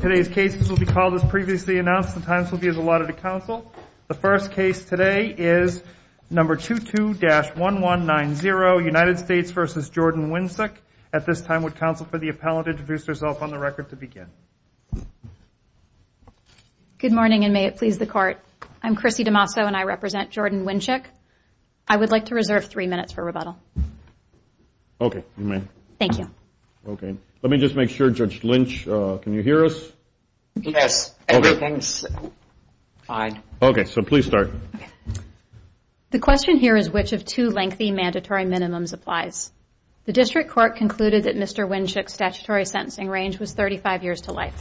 Today's cases will be called as previously announced. The times will be as allotted to counsel. The first case today is number 22-1190 United States v. Jordan Winczuk. At this time would counsel for the appellant introduce herself on the record to begin. Good morning and may it please the court. I'm Chrissy DeMasso and I represent Jordan Winczuk. I would like to reserve three minutes for rebuttal. Okay, you may. Thank you. Okay, let me just make sure, Judge Lynch, can you hear us? Yes, everything's fine. Okay, so please start. The question here is which of two lengthy mandatory minimums applies. The district court concluded that Mr. Winczuk's statutory sentencing range was 35 years to life.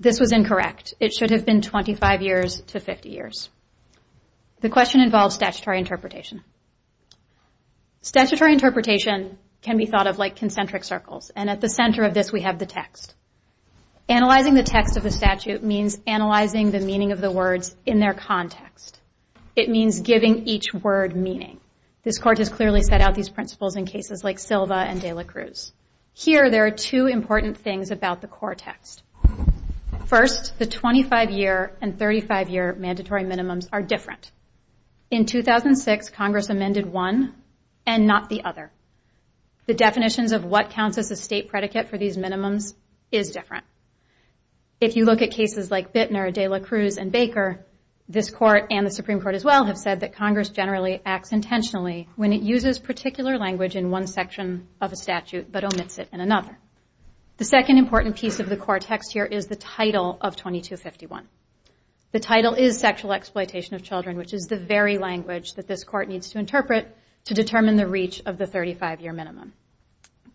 This was incorrect. It should have been 25 years to 50 years. The question involves statutory interpretation. Statutory interpretation can be thought of like concentric circles and at the center of this we have the text. Analyzing the text of the statute means analyzing the meaning of the words in their context. It means giving each word meaning. This court has clearly set out these principles in cases like Silva and de la Cruz. Here there are two important things about the core text. First, the 25-year and 35-year mandatory minimums are different. In 2006, Congress amended one and not the other. The definitions of what counts as a state predicate for these minimums is different. If you look at cases like Bittner, de la Cruz, and Baker, this court and the Supreme Court as well have said that Congress generally acts intentionally when it uses particular language in one section of a statute but omits it in another. The second important piece of the core text here is the title of 2251. The title is sexual exploitation of children which is the very language that this court needs to interpret to determine the reach of the 35-year minimum.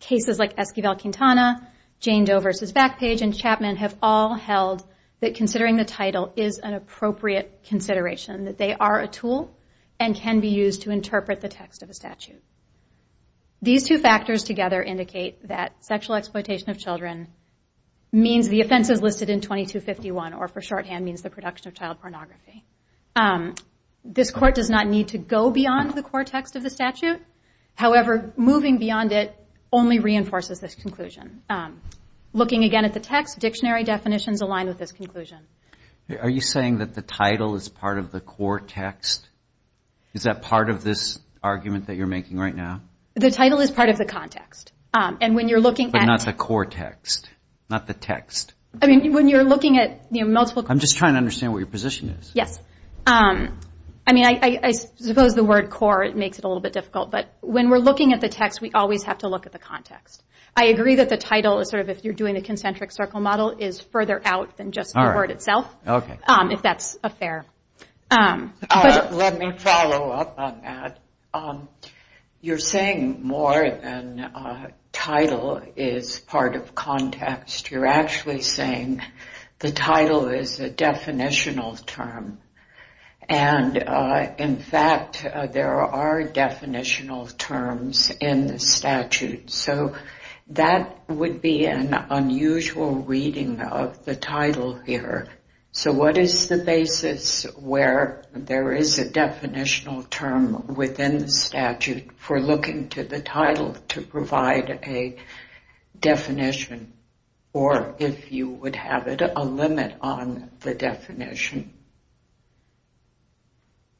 Cases like Esquivel-Quintana, Jane Doe v. Backpage, and Chapman have all held that considering the title is an appropriate consideration that they are a tool and can be used to interpret the text of a statute. These two factors together indicate that sexual exploitation of children means the offenses listed in 2251 or for shorthand means the production of child pornography. This court does not need to go beyond the core text of the statute. However, moving beyond it only reinforces this conclusion. Looking again at the text, dictionary definitions align with this conclusion. Are you saying that the title is part of the core text? Is that part of this argument that you're making right now? The title is part of the context. But not the core text, not the text. I'm just trying to understand what your position is. I suppose the word core makes it a little bit difficult. When we're looking at the text, we always have to look at the context. I agree that the title, if you're doing a concentric circle model, is further out than just the word itself, if that's fair. Let me follow up on that. You're saying more than title is part of context. You're actually saying the title is a definitional term. In fact, there are definitional terms in the statute. So that would be an unusual reading of the title here. So what is the basis where there is a definitional term within the statute for looking to the title to provide a definition, or if you would have a limit on the definition?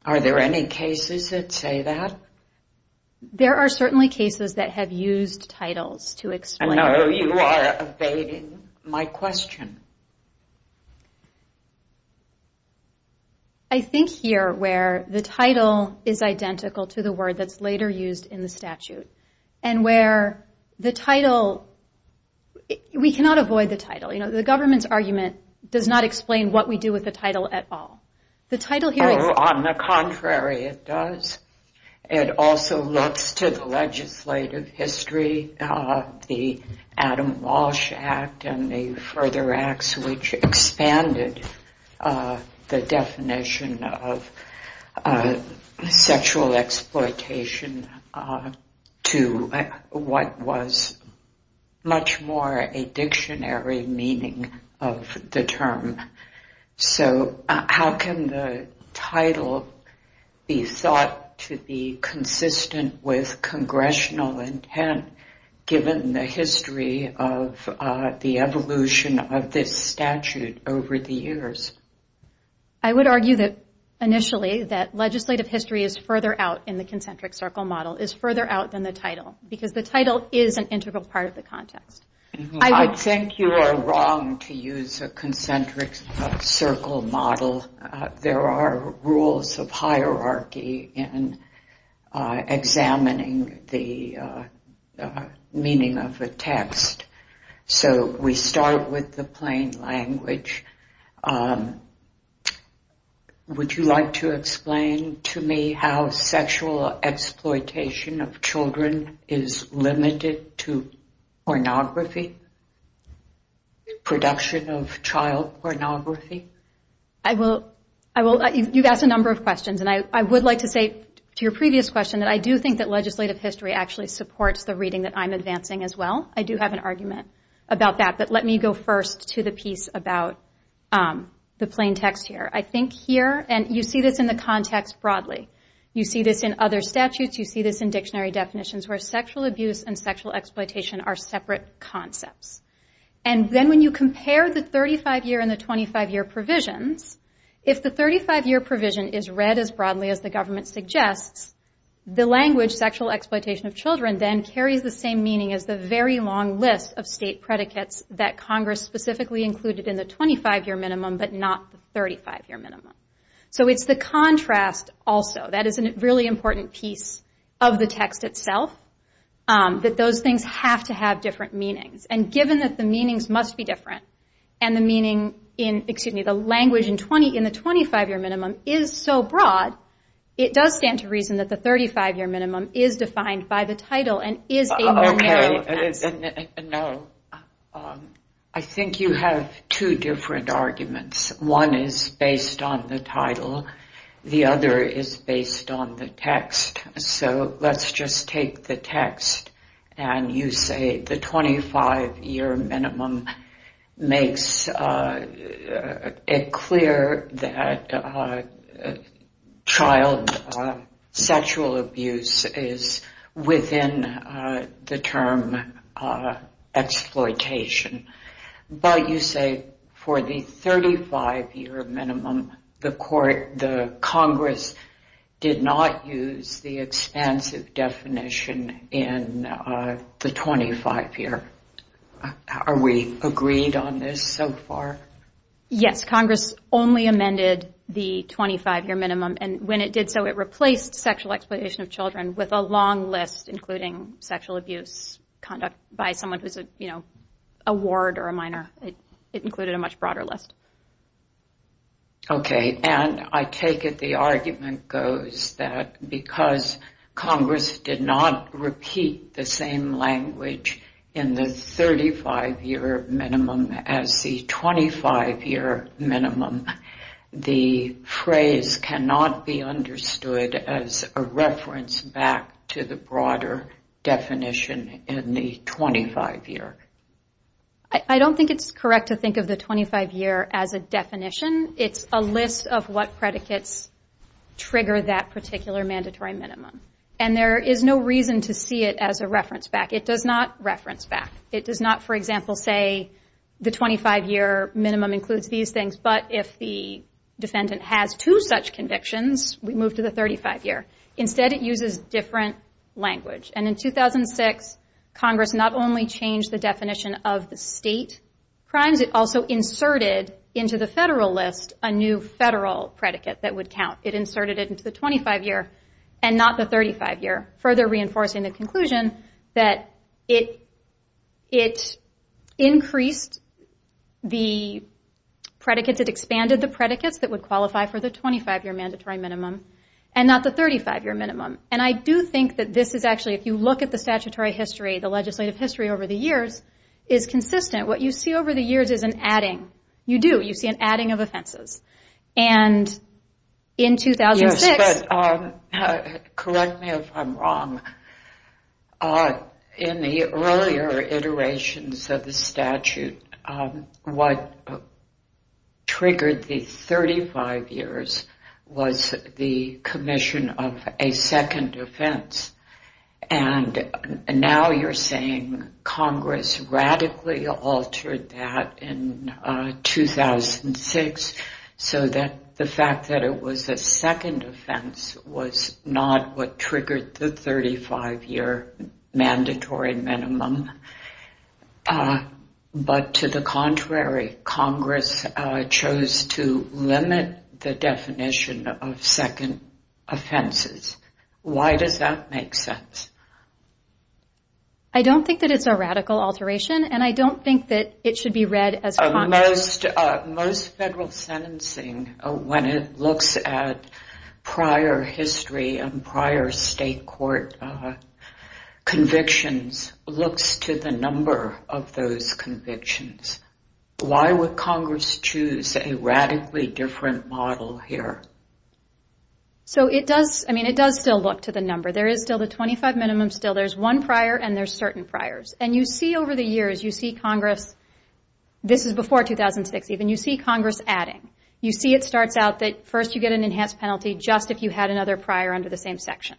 Are there any cases that say that? There are certainly cases that have used titles to explain. I know you are evading my question. I think here where the title is identical to the word that's later used in the statute, and where the title, we cannot avoid the title. The government's argument does not explain what we do with the title at all. The title here is... It also looks to the legislative history, the Adam Walsh Act and the further acts which expanded the definition of sexual exploitation to what was much more a dictionary meaning of the term. So how can the title be thought to be consistent with congressional intent, given the history of the evolution of this statute over the years? I would argue that initially that legislative history is further out in the concentric circle model, is further out than the title, because the title is an integral part of the context. I think you are wrong to use a concentric circle model. There are rules of hierarchy in examining the meaning of a text. So we start with the plain language. Would you like to explain to me how sexual exploitation of children is limited to pornography, production of child pornography? You've asked a number of questions, and I would like to say to your previous question that I do think that legislative history actually supports the reading that I'm advancing as well. I do have an argument about that, but let me go first to the piece about the plain text here. I think here, and you see this in the context broadly. You see this in other statutes. You see this in concepts. Then when you compare the 35-year and the 25-year provisions, if the 35-year provision is read as broadly as the government suggests, the language, sexual exploitation of children, then carries the same meaning as the very long list of state predicates that Congress specifically included in the 25-year minimum, but not the 35-year minimum. It's the contrast also. That is a really important piece of the text itself, that those things have to have different meanings. Given that the meanings must be different, and the language in the 25-year minimum is so broad, it does stand to reason that the 35-year minimum is defined by the title and is a normality. I think you have two different arguments. One is based on the text, so let's just take the text, and you say the 25-year minimum makes it clear that child sexual abuse is within the term exploitation, but you say for the 35-year minimum, the Congress did not use the expansive definition in the 25-year. Are we agreed on this so far? Yes, Congress only amended the 25-year minimum, and when it did so, it replaced sexual exploitation of children with a long list, including sexual abuse conduct by someone who's a ward or a minor. It included a much broader list. Okay, and I take it the argument goes that because Congress did not repeat the same language in the 35-year minimum as the 25-year minimum, the phrase cannot be understood as a reference back to the broader definition in the 25-year. I don't think it's correct to think of the 25-year as a definition. It's a list of what predicates trigger that particular mandatory minimum, and there is no reason to see it as a reference back. It does not reference back. It does not, for example, say the 25-year minimum includes these things, but if the defendant has two such convictions, we move to the 35-year. Instead, it uses different language, and in 2006, Congress not only changed the definition of the state crimes, it also inserted into the federal list a new federal predicate that would count. It inserted it into the 25-year and not the 35-year, further reinforcing the conclusion that it increased the predicates. It expanded the predicates that would qualify for the 25-year mandatory minimum and not the 35-year minimum, and I do think that this is actually, if you look at the statutory history, the legislative history over the years, is consistent. What you see over the years is an adding. You do. You see an adding of offenses, and in 2006... Yes, but correct me if I'm wrong. In the earlier iterations of the statute, what triggered the 35-years was the commission of a second offense, and now you're saying Congress radically altered that in 2006, so that the fact that it was a second offense was not what triggered the 35-year mandatory minimum, but to the contrary, Congress chose to limit the definition of second offenses. Why does that make sense? I don't think that it's a radical alteration, and I don't think that it should be read as... Most federal sentencing, when it looks at prior history and prior state court convictions, looks to the number of those convictions. Why would Congress choose a radically different model here? So it does, I mean, it does still look to the number. There is still the 25 minimum still. There's one prior, and there's certain priors, and you see over the years, you see Congress, this is before 2006 even, you see Congress adding. You see it starts out that first you get an enhanced penalty just if you had another prior under the same section.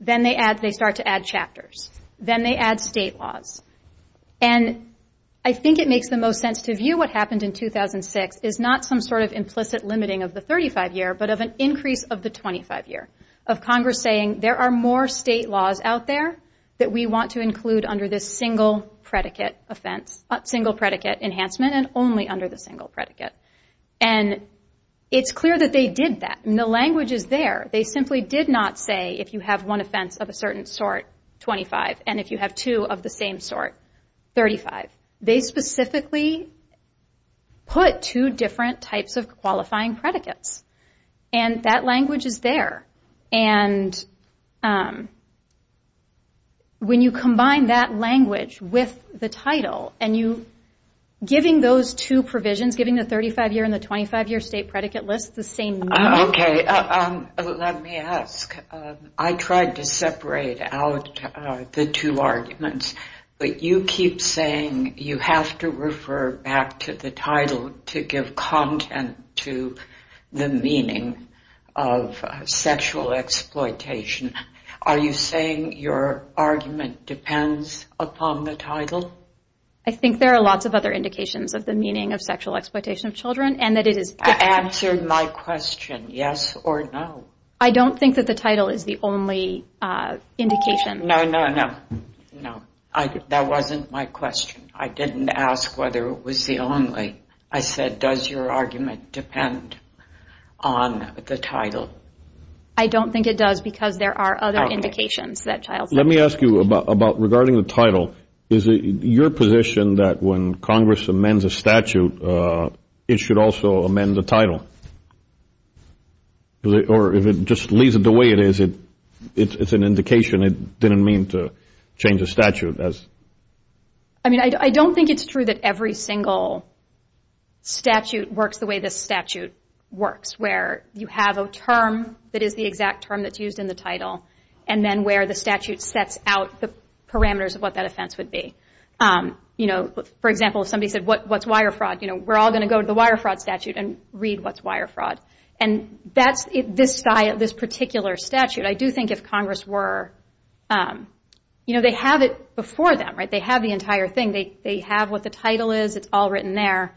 Then they add, they start to add chapters. Then they add state laws, and I think it makes the most sense to view what happened in 2006 is not some sort of implicit limiting of the 35-year, but of an increase of the 25-year, of Congress saying there are more state laws out there that we want to single predicate enhancement and only under the single predicate. And it's clear that they did that, and the language is there. They simply did not say if you have one offense of a certain sort, 25, and if you have two of the same sort, 35. They specifically put two different types of qualifying predicates, and that language is there. And when you combine that language with the title and you, giving those two provisions, giving the 35-year and the 25-year state predicate list the same meaning. Okay, let me ask. I tried to separate out the two arguments, but you keep saying you have to refer back to the title to give content to the meaning of sexual exploitation. Are you saying your argument depends upon the title? I think there are lots of other indications of the meaning of sexual exploitation of children, and that it is... Answer my question, yes or no. I don't think that the title is the only indication. No, no, no, no. That wasn't my question. I didn't ask whether it was the only. I said, does your argument depend on the title? I don't think it does because there are other indications that child... Let me ask you about regarding the title. Is it your position that when Congress amends a statute, it should also amend the title? Or if it just leaves it the way it is, it's an indication. It didn't mean to change the statute as... I mean, I don't think it's true that every single statute works the way this statute works, where you have a term that is the exact term that's used in the title, and then where the statute sets out the parameters of what that offense would be. For example, if somebody said, what's wire fraud? We're all going to go to the wire fraud statute and read what's wire fraud. This particular statute, I do think if Congress were... They have it before them. They have the entire thing. They have what the title is. It's all written there.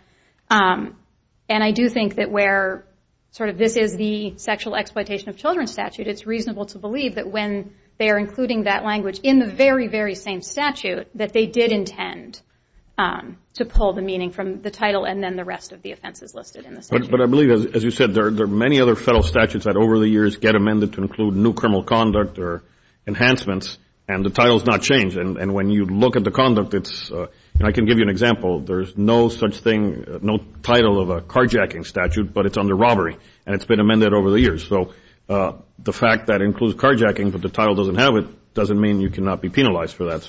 I do think that where this is the sexual exploitation of children statute, it's reasonable to believe that when they're including that language in the very, very same statute, that they did intend to pull the meaning from the title and then the rest of the offenses listed in the statute. But I believe, as you said, there are many other federal statutes that over the years get amended to include new criminal conduct or enhancements, and the title's not changed. And when you look at the conduct, it's... I can give you an example. There's no such thing, no title of a carjacking statute, but it's under robbery, and it's been amended over the years. So the fact that it includes carjacking, but the title doesn't have it, doesn't mean you cannot be penalized for that.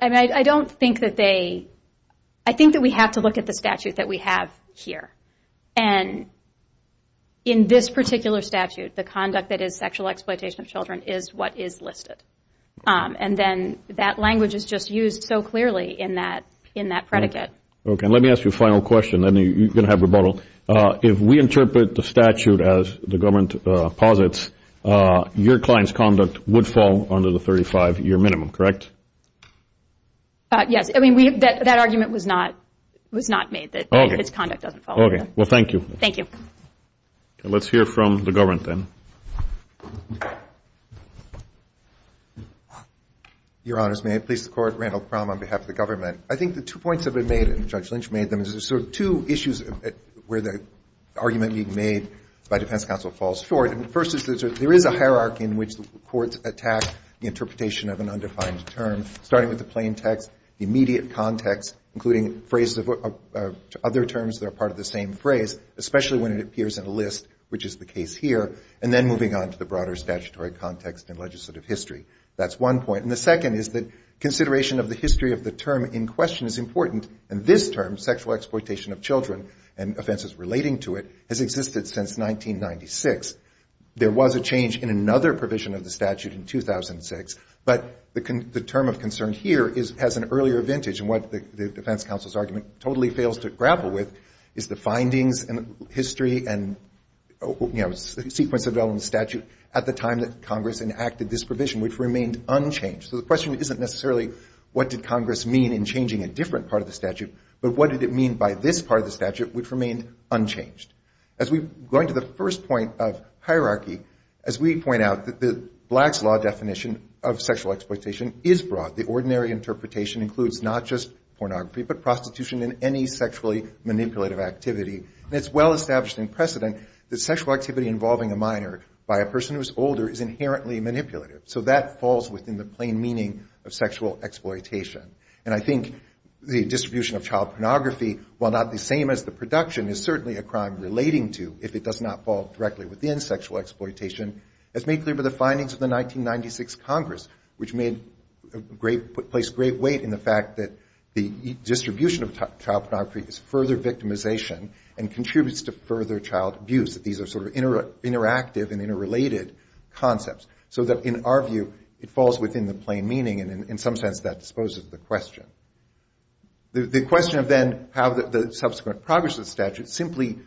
And I don't think that they... I think that we have to look at the statute that we have here. And in this particular statute, the conduct that is sexual exploitation of children is what is listed. And then that language is just used so clearly in that predicate. Okay. Let me ask you a final question, then you're going to have rebuttal. If we interpret the statute as the government posits, your client's conduct would fall under the 35-year minimum, correct? Yes. I mean, that argument was not made, that his conduct doesn't fall under that. Okay. Well, thank you. Thank you. Let's hear from the government then. Your Honors, may I please support Randall Crum on behalf of the government? I think the two points that have been made, and Judge Lynch made them, is there's sort of two issues where the argument being made by defense counsel falls short. And the first is that there is a hierarchy in which the courts attack the interpretation of an undefined term, starting with the plain text, the immediate context, including phrases of other terms that are part of the same phrase, especially when it appears in a list, which is the case here, and then moving on to the broader statutory context and legislative history. That's one point. And the second is that in this term, sexual exploitation of children and offenses relating to it has existed since 1996. There was a change in another provision of the statute in 2006, but the term of concern here is, has an earlier vintage, and what the defense counsel's argument totally fails to grapple with is the findings and history and, you know, sequence of elements statute at the time that Congress enacted this provision, which remained unchanged. So the question isn't necessarily what did Congress mean in changing a different part of the statute, but what did it mean by this part of the statute, which remained unchanged. As we go into the first point of hierarchy, as we point out that the Black's law definition of sexual exploitation is broad. The ordinary interpretation includes not just pornography, but prostitution and any sexually manipulative activity. And it's well established in precedent that sexual activity involving a minor by a person who's older is inherently manipulative. So that falls within the plain meaning of sexual exploitation. And I think the distribution of child pornography, while not the same as the production, is certainly a crime relating to, if it does not fall directly within sexual exploitation, as made clear by the findings of the 1996 Congress, which made, placed great weight in the fact that the distribution of child pornography is further victimization and contributes to further child abuse, that these are sort of interactive and interrelated concepts. So that in our view, it falls within the plain meaning. And in some sense, that disposes the question. The question of then how the subsequent progress of the statute simply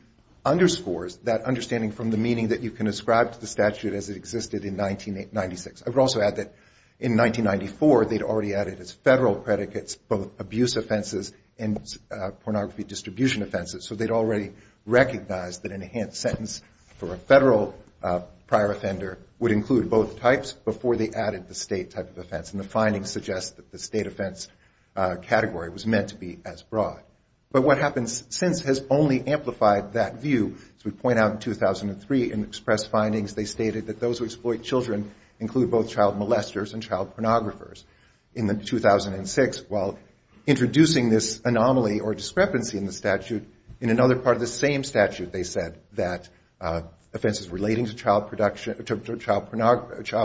underscores that understanding from the meaning that you can ascribe to the statute as it existed in 1996. I would also add that in 1994, they'd already added as federal predicates both abuse offenses and pornography distribution offenses. So they'd already recognized that an enhanced sentence for a federal prior offender would include both types before they added the state type of offense. And the findings suggest that the state offense category was meant to be as broad. But what happens since has only amplified that view. As we point out in 2003, in expressed findings, they stated that those who exploit children include both child molesters and child pornographers. In 2006, while introducing this anomaly or discrepancy in the statute, in another part of the same statute, they said that offenses relating to child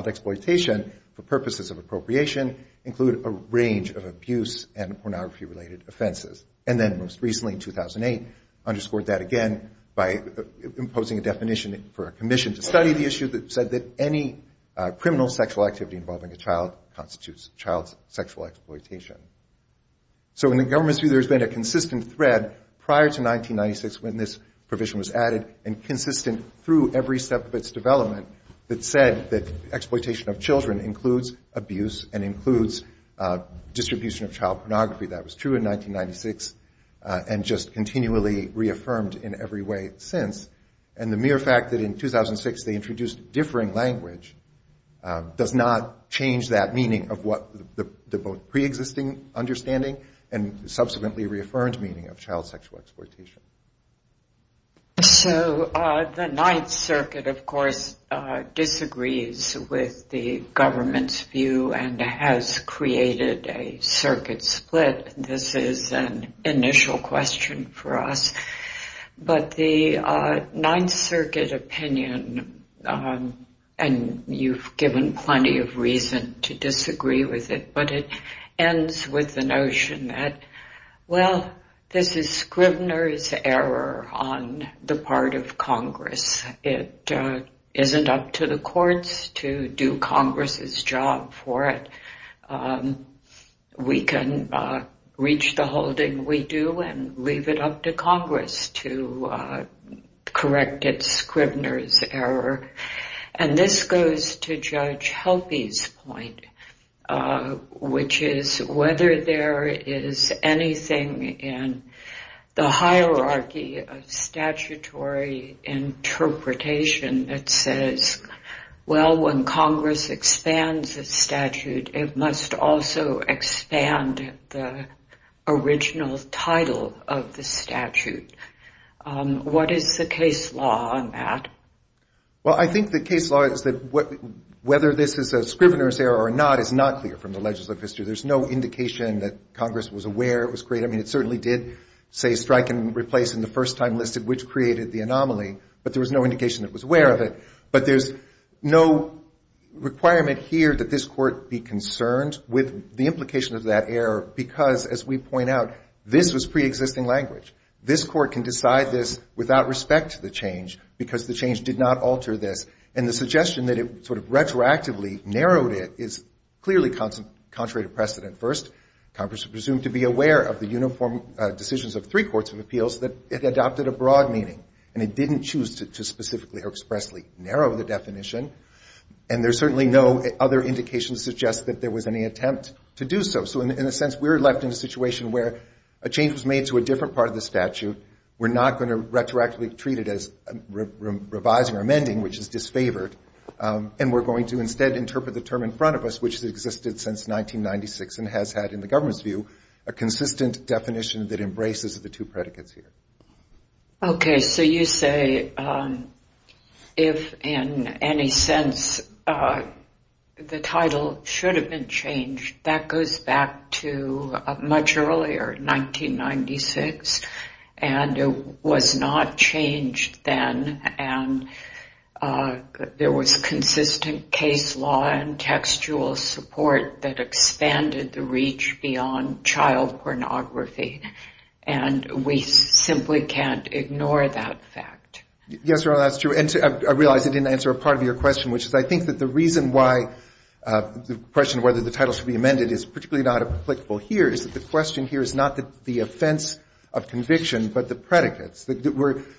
exploitation for purposes of appropriation include a range of abuse and pornography-related offenses. And then most recently, in 2008, underscored that again by imposing a definition for a commission to study the issue that said that any criminal sexual activity involving a child constitutes child sexual exploitation. So in the government's view, there's been a consistent thread prior to 1996 when this provision was added and consistent through every step of its development that said that exploitation of children includes abuse and includes distribution of child pornography. That was true in 1996 and just continually reaffirmed in every way since. And the mere fact that in 2006 they introduced differing language does not change that meaning of what the preexisting understanding and subsequently reaffirmed meaning of child sexual exploitation. So the Ninth Circuit, of course, disagrees with the government's view and has created a circuit split. This is an initial question for us. But the Ninth Circuit opinion, and you've given plenty of reason to disagree with it, but it is a question for us. This is Scrivner's error on the part of Congress. It isn't up to the courts to do Congress's job for it. We can reach the holding we do and leave it up to Congress to the hierarchy of statutory interpretation that says, well, when Congress expands a statute, it must also expand the original title of the statute. What is the case law on that? Well, I think the case law is that whether this is a Scrivner's error or not is not clear from the legislative history. There's no indication that Congress was aware it was created. I mean, certainly did say strike and replace in the first time listed which created the anomaly, but there was no indication it was aware of it. But there's no requirement here that this court be concerned with the implication of that error because, as we point out, this was preexisting language. This court can decide this without respect to the change because the change did not alter this. And the suggestion that it sort of retroactively narrowed it is clearly contrary to precedent. First, Congress was presumed to be aware of the uniform decisions of three courts of appeals that it adopted a broad meaning, and it didn't choose to specifically or expressly narrow the definition. And there's certainly no other indication to suggest that there was any attempt to do so. So, in a sense, we're left in a situation where a change was made to a different part of the statute. We're not going to retroactively treat it as revising or amending, which is disfavored, and we're going to instead interpret the term in front of us, which has existed since 1996 and has had, in the government's view, a consistent definition that embraces the two predicates here. Okay, so you say, if in any sense the title should have been changed, that goes back to much earlier, 1996, and it was not changed then, and there was consistent case law and textual support that expanded the reach beyond child pornography, and we simply can't ignore that fact. Yes, Your Honor, that's true. And I realize I didn't answer a part of your question, which is, I think that the reason why the question of whether the title should be amended is particularly not applicable here is that the question here is not the offense of conviction, but the predicates.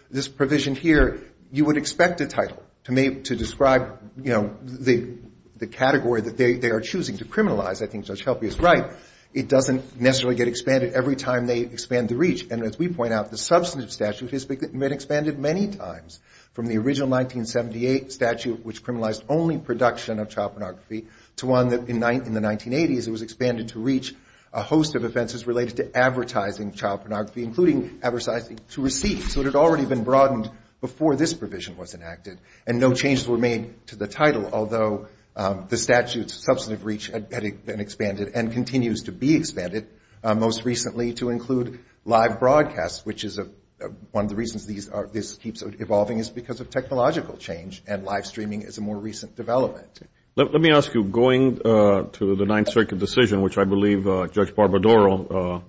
This provision here, you would expect a title to describe, you know, the category that they are choosing to criminalize. I think Judge Helpe is right. It doesn't necessarily get expanded every time they expand the reach, and as we point out, the substantive statute has been expanded many times, from the original 1978 statute, which criminalized only production of child pornography, to one that, in the 1980s, it was expanded to reach a host of offenses related to advertising child pornography, including advertising to receive, so it had already been broadened before this provision was enacted, and no changes were made to the title, although the statute's substantive reach had been expanded and continues to be expanded, most recently to include live broadcasts, which is one of the reasons this keeps evolving is because of technological change, and live streaming is a more recent development. Let me ask you, going to the Ninth Circuit decision, which I believe Judge Barbadero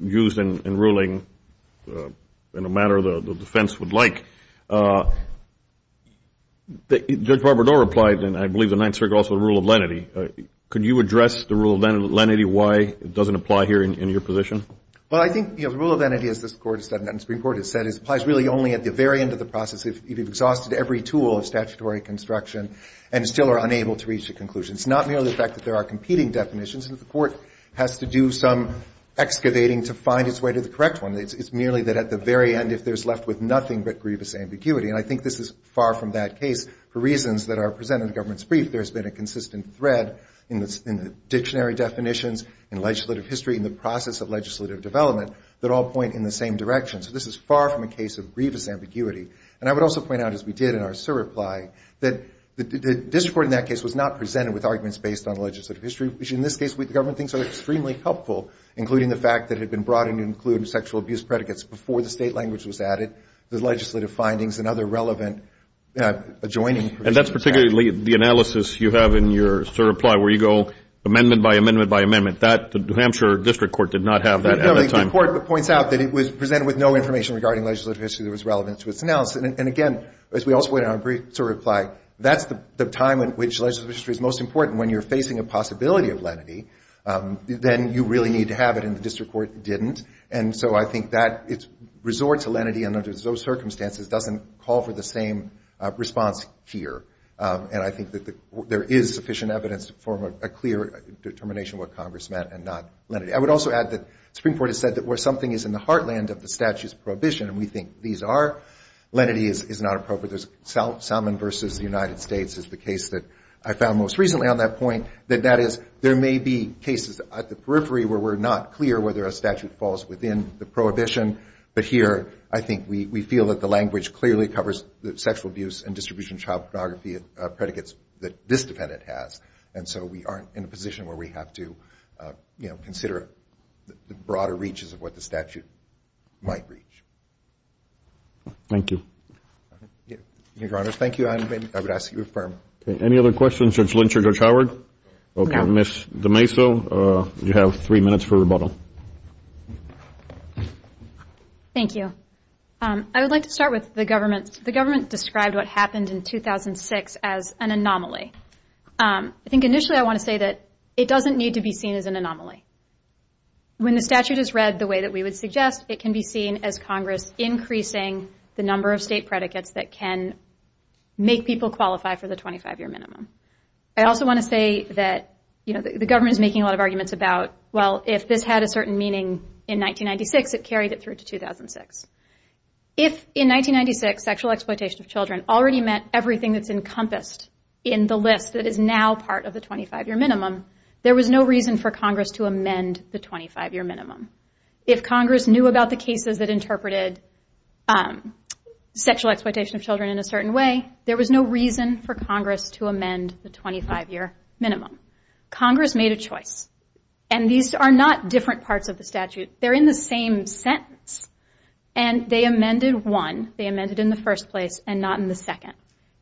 used in ruling in a manner the defense would like, Judge Barbadero replied in, I believe, the Ninth Circuit also, the rule of lenity. Could you address the rule of lenity, why it doesn't apply here in your position? Well, I think, you know, the rule of lenity, as this Court has said, and the Supreme Court has said, is it applies really only at the very end of the process, if you've exhausted every tool of statutory construction and still are unable to reach a conclusion. It's not merely the fact that there are competing definitions, and that the Court has to do some excavating to find its way to the correct one. It's merely that at the end, if there's left with nothing but grievous ambiguity, and I think this is far from that case, for reasons that are presented in the government's brief, there's been a consistent thread in the dictionary definitions, in legislative history, in the process of legislative development, that all point in the same direction. So this is far from a case of grievous ambiguity. And I would also point out, as we did in our surreply, that the district court in that case was not presented with arguments based on legislative history, which in this case, the government thinks are extremely helpful, including the fact that it had been brought in to include sexual abuse predicates before the state language was added, the legislative findings, and other relevant adjoining... And that's particularly the analysis you have in your surreply, where you go amendment by amendment by amendment. That, the New Hampshire district court did not have that at that time. No, the court points out that it was presented with no information regarding legislative history that was relevant to its analysis. And again, as we also went on a brief surreply, that's the time in which legislative history is most important. When you're facing a And so I think that it's resort to lenity and under those circumstances doesn't call for the same response here. And I think that there is sufficient evidence to form a clear determination what Congress meant and not lenity. I would also add that the Supreme Court has said that where something is in the heartland of the statute's prohibition, and we think these are, lenity is not appropriate. Salmon versus the United States is the case that I found most recently on that point, that that is, there may be cases at the periphery where we're not clear whether a statute falls within the prohibition. But here, I think we feel that the language clearly covers the sexual abuse and distribution of child pornography predicates that this defendant has. And so we aren't in a position where we have to consider the broader reaches of what the statute might reach. Thank you. Your Honor, thank you. I would ask you to affirm. Any other questions, Judge Lynch or Judge Howard? Okay, Ms. DeMaso, you have three minutes for rebuttal. Thank you. I would like to start with the government. The government described what happened in 2006 as an anomaly. I think initially I want to say that it doesn't need to be seen as an anomaly. When the statute is read the way that we would suggest, it can be seen as Congress increasing the number of state predicates that can make people qualify for the 25-year minimum. I also want to say that the government is making a lot of arguments about, well, if this had a certain meaning in 1996, it carried it through to 2006. If in 1996, sexual exploitation of children already meant everything that's encompassed in the list that is now part of the 25-year minimum, there was no reason for Congress to interpret sexual exploitation of children in a certain way. There was no reason for Congress to amend the 25-year minimum. Congress made a choice. And these are not different parts of the statute. They're in the same sentence. And they amended one. They amended in the first place and not in the second.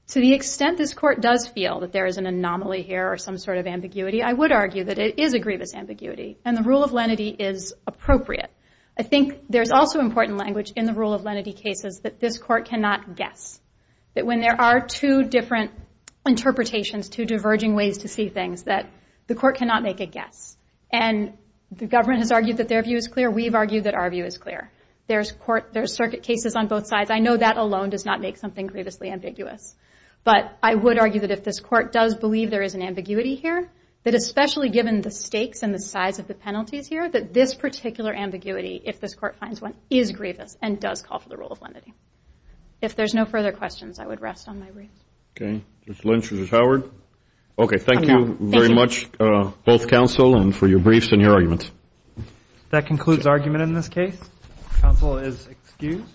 To the extent this Court does feel that there is an anomaly here or some sort of ambiguity, I would argue that it is a grievous ambiguity. And the rule of lenity is appropriate. I think there's also important language in the rule of lenity cases that this Court cannot guess. That when there are two different interpretations, two diverging ways to see things, that the Court cannot make a guess. And the government has argued that their view is clear. We've argued that our view is clear. There's circuit cases on both sides. I know that alone does not make something grievously ambiguous. But I would argue that if this Court does believe there is an ambiguity here, that especially given the stakes and the penalties here, that this particular ambiguity, if this Court finds one, is grievous and does call for the rule of lenity. If there's no further questions, I would rest on my briefs. Okay. Judge Lynch, Judge Howard? Okay. Thank you very much, both counsel, and for your briefs and your arguments. That concludes argument in this case. Counsel is excused.